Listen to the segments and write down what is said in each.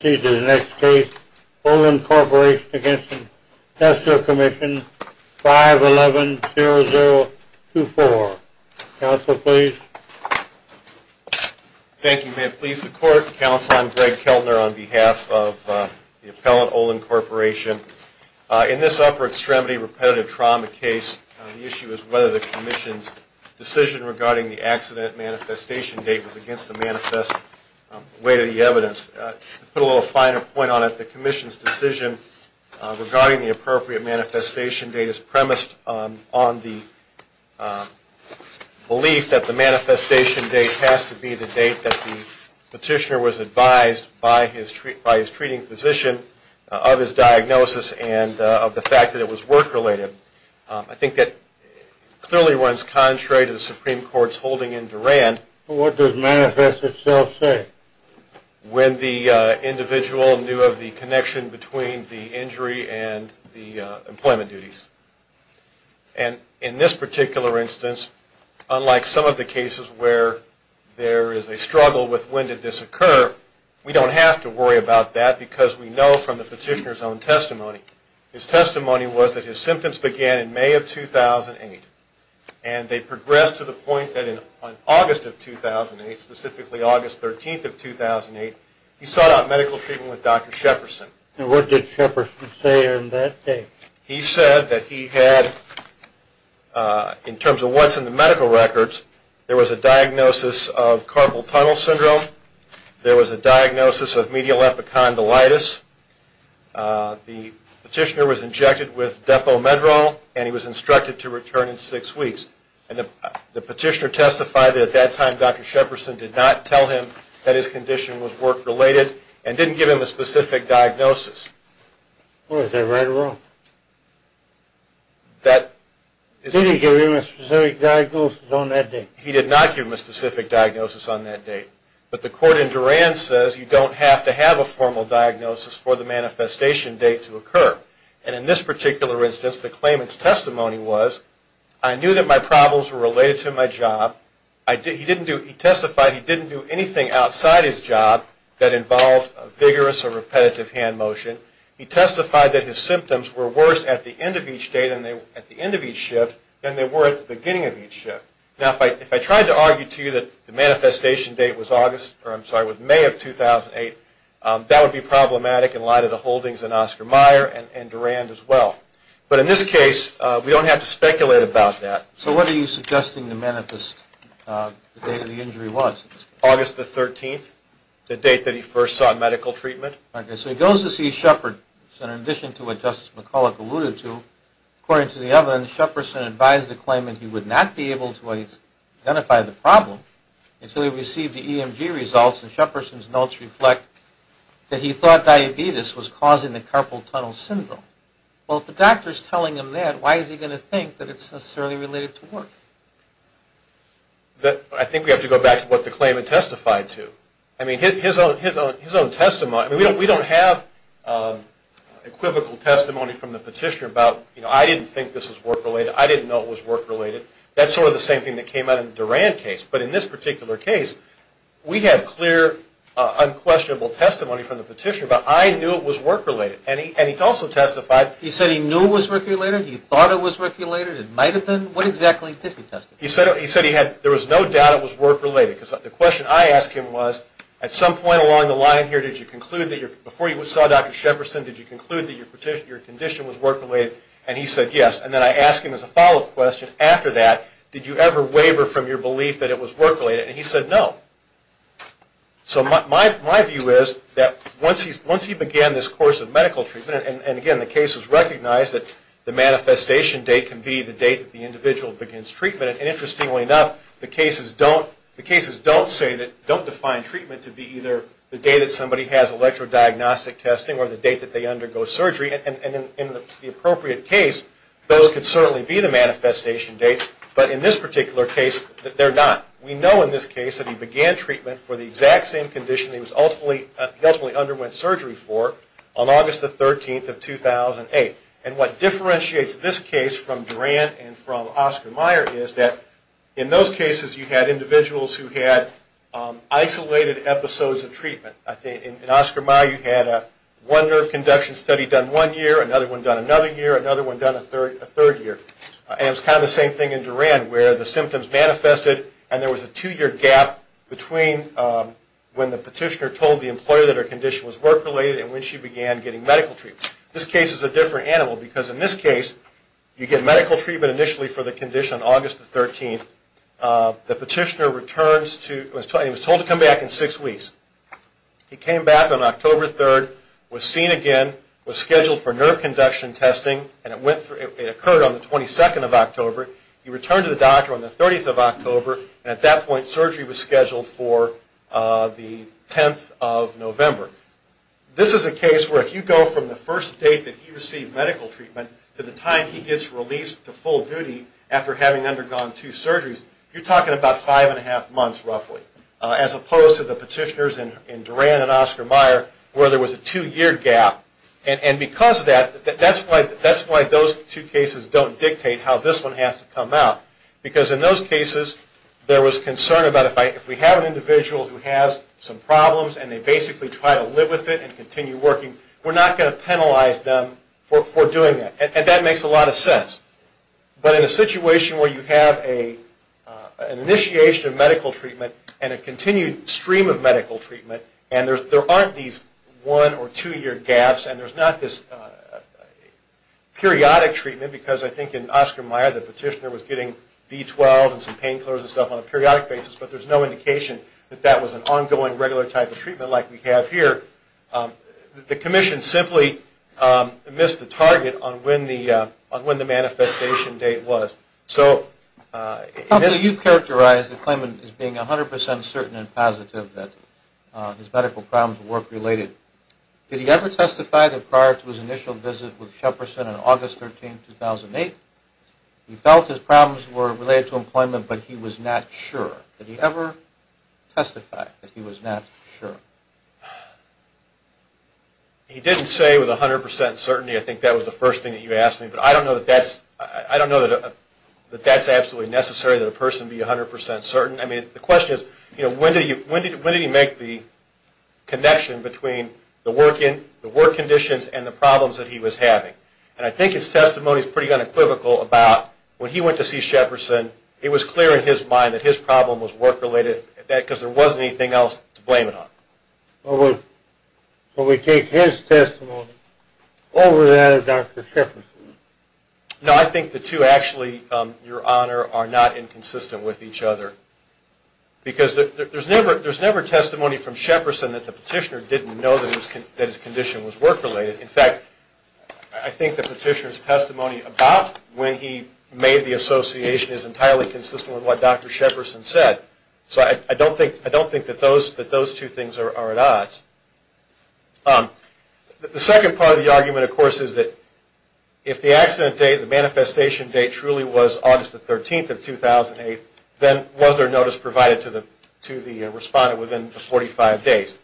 Please do the next case, Olin Corporation v. Tester Commission, 511-0024. Counsel, please. Thank you. May it please the Court. Counsel, I'm Greg Keltner on behalf of the appellant, Olin Corporation. In this upper extremity repetitive trauma case, the issue is whether the Commission's decision regarding the accident manifestation date was against the manifest weight of the evidence. To put a little finer point on it, the Commission's decision regarding the appropriate manifestation date is premised on the belief that the manifestation date has to be the date that the petitioner was advised by his treating physician of his diagnosis and of the fact that it was work-related. I think that clearly runs contrary to the Supreme Court's holding in Durand. What does manifest itself say? When the individual knew of the connection between the injury and the employment duties. And in this particular instance, unlike some of the cases where there is a struggle with when did this occur, we don't have to worry about that because we know from the petitioner's own testimony. His testimony was that his symptoms began in May of 2008 and they progressed to the point that in August of 2008, specifically August 13th of 2008, he sought out medical treatment with Dr. Sheperson. And what did Sheperson say on that date? He said that he had, in terms of what's in the medical records, there was a diagnosis of carpal tunnel syndrome. There was a diagnosis of medial epicondylitis. The petitioner was injected with Depomedrol and he was instructed to return in six weeks. And the petitioner testified that at that time Dr. Sheperson did not tell him that his condition was work-related and didn't give him a specific diagnosis. What, is that right or wrong? Did he give him a specific diagnosis on that date? He did not give him a specific diagnosis on that date. But the court in Duran says you don't have to have a formal diagnosis for the manifestation date to occur. And in this particular instance, the claimant's testimony was, I knew that my problems were related to my job. He testified he didn't do anything outside his job that involved vigorous or repetitive hand motion. He testified that his symptoms were worse at the end of each shift than they were at the beginning of each shift. Now, if I tried to argue to you that the manifestation date was August, or I'm sorry, was May of 2008, that would be problematic in light of the holdings in Oscar Meyer and Durand as well. But in this case, we don't have to speculate about that. So what are you suggesting to manifest the date of the injury was? August the 13th, the date that he first saw medical treatment. Okay, so he goes to see Sheperson. In addition to what Justice McCulloch alluded to, according to the evidence, Sheperson advised the claimant he would not be able to identify the problem until he received the EMG results. And Sheperson's notes reflect that he thought diabetes was causing the carpal tunnel syndrome. Well, if the doctor's telling him that, why is he going to think that it's necessarily related to work? I think we have to go back to what the claimant testified to. I mean, his own testimony, we don't have equivocal testimony from the petitioner about, you know, I didn't think this was work-related, I didn't know it was work-related. That's sort of the same thing that came out in the Durand case. But in this particular case, we have clear, unquestionable testimony from the petitioner about, I knew it was work-related. And he also testified. He said he knew it was work-related, he thought it was work-related, it might have been. What exactly did he testify? He said he had, there was no doubt it was work-related. Because the question I asked him was, at some point along the line here, did you conclude that your, before you saw Dr. Sheperson, did you conclude that your condition was work-related? And he said yes. And then I asked him as a follow-up question, after that, did you ever waver from your belief that it was work-related? And he said no. So my view is that once he began this course of medical treatment, and again, the case is recognized that the manifestation date can be the date that the individual begins treatment. And interestingly enough, the cases don't say that, don't define treatment to be either the date that somebody has electrodiagnostic testing or the date that they undergo surgery. And in the appropriate case, those could certainly be the manifestation dates. But in this particular case, they're not. We know in this case that he began treatment for the exact same condition he ultimately underwent surgery for on August the 13th of 2008. And what differentiates this case from Duran and from Oscar Mayer is that, in those cases, you had individuals who had isolated episodes of treatment. In Oscar Mayer, you had one nerve conduction study done one year, another one done another year, another one done a third year. And it was kind of the same thing in Duran where the symptoms manifested and there was a two-year gap between when the petitioner told the employer that her condition was work-related and when she began getting medical treatment. This case is a different animal because in this case, you get medical treatment initially for the condition on August the 13th. The petitioner returns to, he was told to come back in six weeks. He came back on October 3rd, was seen again, was scheduled for nerve conduction testing, and it occurred on the 22nd of October. He returned to the doctor on the 30th of October, and at that point, surgery was scheduled for the 10th of November. This is a case where if you go from the first date that he received medical treatment to the time he gets released to full duty after having undergone two surgeries, you're talking about five and a half months, roughly, as opposed to the petitioners in Duran and Oscar Mayer where there was a two-year gap. And because of that, that's why those two cases don't dictate how this one has to come out because in those cases, there was concern about if we have an individual who has some problems and they basically try to live with it and continue working, we're not going to penalize them for doing that. And that makes a lot of sense. But in a situation where you have an initiation of medical treatment and a continued stream of medical treatment, and there aren't these one- or two-year gaps, and there's not this periodic treatment because I think in Oscar Mayer, the petitioner was getting B12 and some pain killers and stuff on a periodic basis, but there's no indication that that was an ongoing regular type of treatment like we have here. The commission simply missed the target on when the manifestation date was. You've characterized the claimant as being 100 percent certain and positive that his medical problems were work-related. Did he ever testify that prior to his initial visit with Sheperson on August 13, 2008, he felt his problems were related to employment but he was not sure? Did he ever testify that he was not sure? He didn't say with 100 percent certainty. I think that was the first thing that you asked me. But I don't know that that's absolutely necessary that a person be 100 percent certain. I mean, the question is when did he make the connection between the work conditions and the problems that he was having? And I think his testimony is pretty unequivocal about when he went to see Sheperson, it was clear in his mind that his problem was work-related because there wasn't anything else to blame it on. So we take his testimony over that of Dr. Sheperson? No, I think the two actually, Your Honor, are not inconsistent with each other because there's never testimony from Sheperson that the petitioner didn't know that his condition was work-related. In fact, I think the petitioner's testimony about when he made the association is entirely consistent with what Dr. Sheperson said. So I don't think that those two things are at odds. The second part of the argument, of course, is that if the accident date, the manifestation date truly was August the 13th of 2008, then was there notice provided to the respondent within the 45 days?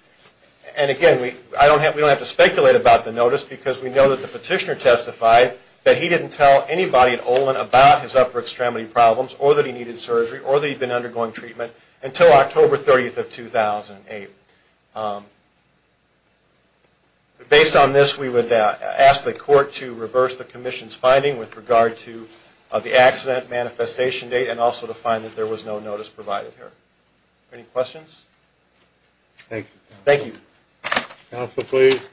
And again, we don't have to speculate about the notice because we know that the petitioner testified that he didn't tell anybody at Olin about his upper extremity problems or that he needed surgery or that he'd been undergoing treatment until October 30th of 2008. Based on this, we would ask the Court to reverse the Commission's finding with regard to the accident manifestation date and also to find that there was no notice provided here. Any questions? Thank you. Counsel, please.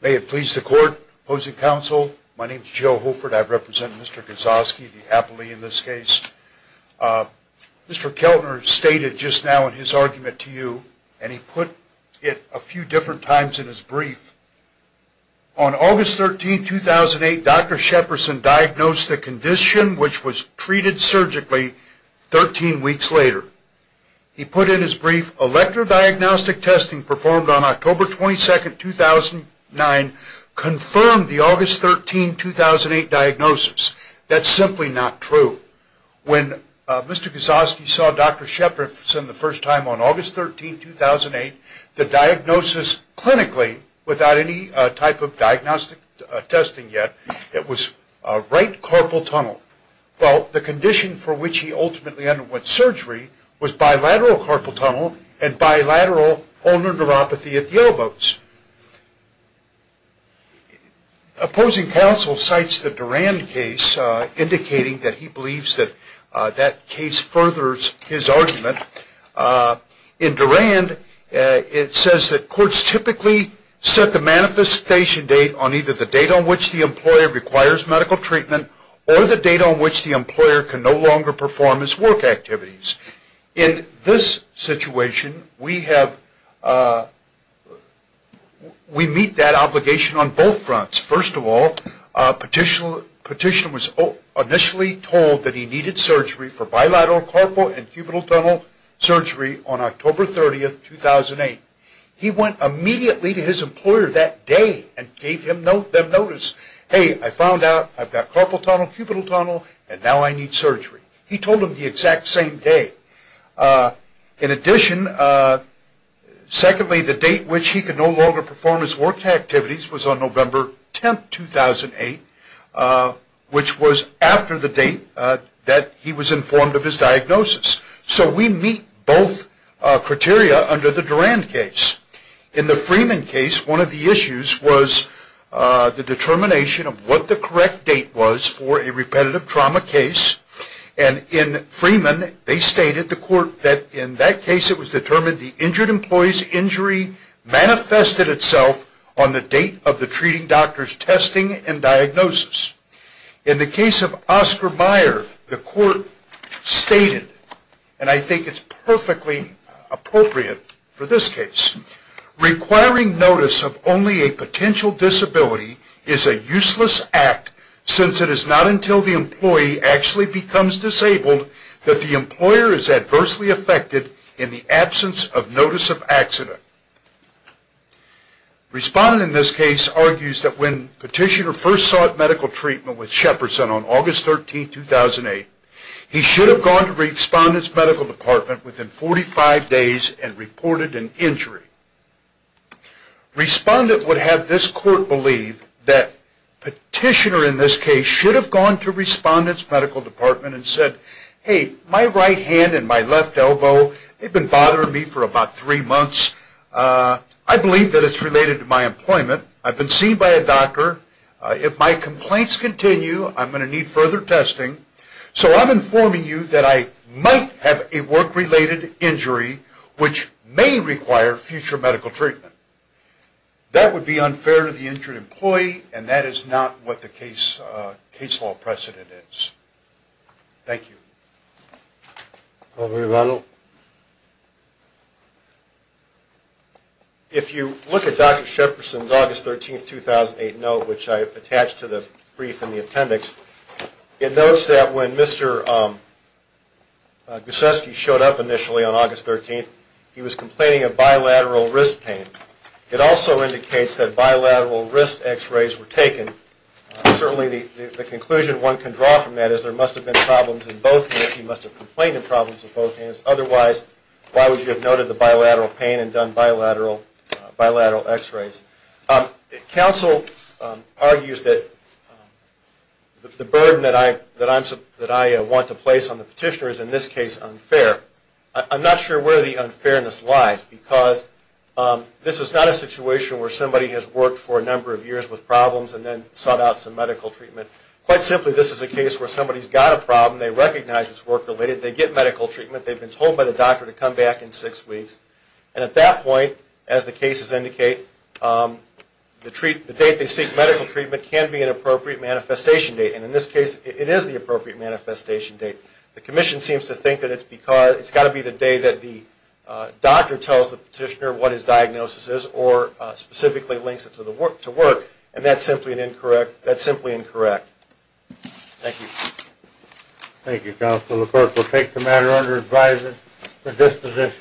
May it please the Court, opposing counsel, my name is Joe Holford. I represent Mr. Kozlowski, the appellee in this case. Mr. Keltner stated just now in his argument to you, and he put it a few different times in his brief, on August 13th, 2008, Dr. Sheperson diagnosed the condition, which was treated surgically, 13 weeks later. He put in his brief, electrodiagnostic testing performed on October 22nd, 2009, confirmed the August 13th, 2008 diagnosis. That's simply not true. When Mr. Kozlowski saw Dr. Sheperson the first time on August 13th, 2008, the diagnosis clinically, without any type of diagnostic testing yet, it was right carpal tunnel. Well, the condition for which he ultimately underwent surgery was bilateral carpal tunnel and bilateral ulnar neuropathy at the elbows. Opposing counsel cites the Durand case, indicating that he believes that that case furthers his argument. In Durand, it says that courts typically set the manifestation date on either the date on which the employer requires medical treatment, or the date on which the employer can no longer perform his work activities. In this situation, we meet that obligation on both fronts. First of all, Petitioner was initially told that he needed surgery for bilateral carpal and cubital tunnel surgery on October 30th, 2008. He went immediately to his employer that day and gave them notice. Hey, I found out I've got carpal tunnel, cubital tunnel, and now I need surgery. He told them the exact same day. In addition, secondly, the date which he could no longer perform his work activities was on November 10th, 2008, which was after the date that he was informed of his diagnosis. So we meet both criteria under the Durand case. In the Freeman case, one of the issues was the determination of what the correct date was for a repetitive trauma case. In Freeman, they stated that in that case it was determined the injured employee's injury manifested itself on the date of the treating doctor's testing and diagnosis. In the case of Oscar Meyer, the court stated, and I think it's perfectly appropriate for this case, requiring notice of only a potential disability is a useless act since it is not until the employee actually becomes disabled that the employer is adversely affected in the absence of notice of accident. Respondent in this case argues that when Petitioner first sought medical treatment with Shepperson on August 13th, 2008, he should have gone to Respondent's medical department within 45 days and reported an injury. Respondent would have this court believe that Petitioner in this case should have gone to Respondent's medical department and said, hey, my right hand and my left elbow, they've been bothering me for about three months. I believe that it's related to my employment. I've been seen by a doctor. If my complaints continue, I'm going to need further testing. So I'm informing you that I might have a work-related injury which may require future medical treatment. That would be unfair to the injured employee, and that is not what the case law precedent is. Thank you. Over to Ronald. If you look at Dr. Shepperson's August 13th, 2008 note, which I attached to the brief in the appendix, it notes that when Mr. Guszewski showed up initially on August 13th, he was complaining of bilateral wrist pain. It also indicates that bilateral wrist X-rays were taken. Certainly the conclusion one can draw from that is there must have been problems in both hands, he must have complained of problems in both hands. Otherwise, why would you have noted the bilateral pain and done bilateral X-rays? Counsel argues that the burden that I want to place on the petitioner is in this case unfair. I'm not sure where the unfairness lies because this is not a situation where somebody has worked for a number of years with problems and then sought out some medical treatment. Quite simply, this is a case where somebody's got a problem, they recognize it's work-related, they get medical treatment, they've been told by the doctor to come back in six weeks, and at that point, as the cases indicate, the date they seek medical treatment can be an appropriate manifestation date. And in this case, it is the appropriate manifestation date. The commission seems to think that it's got to be the day that the doctor tells the petitioner what his diagnosis is or specifically links it to work, and that's simply incorrect. Thank you. Thank you, Counsel. The court will take the matter under advisory for disposition.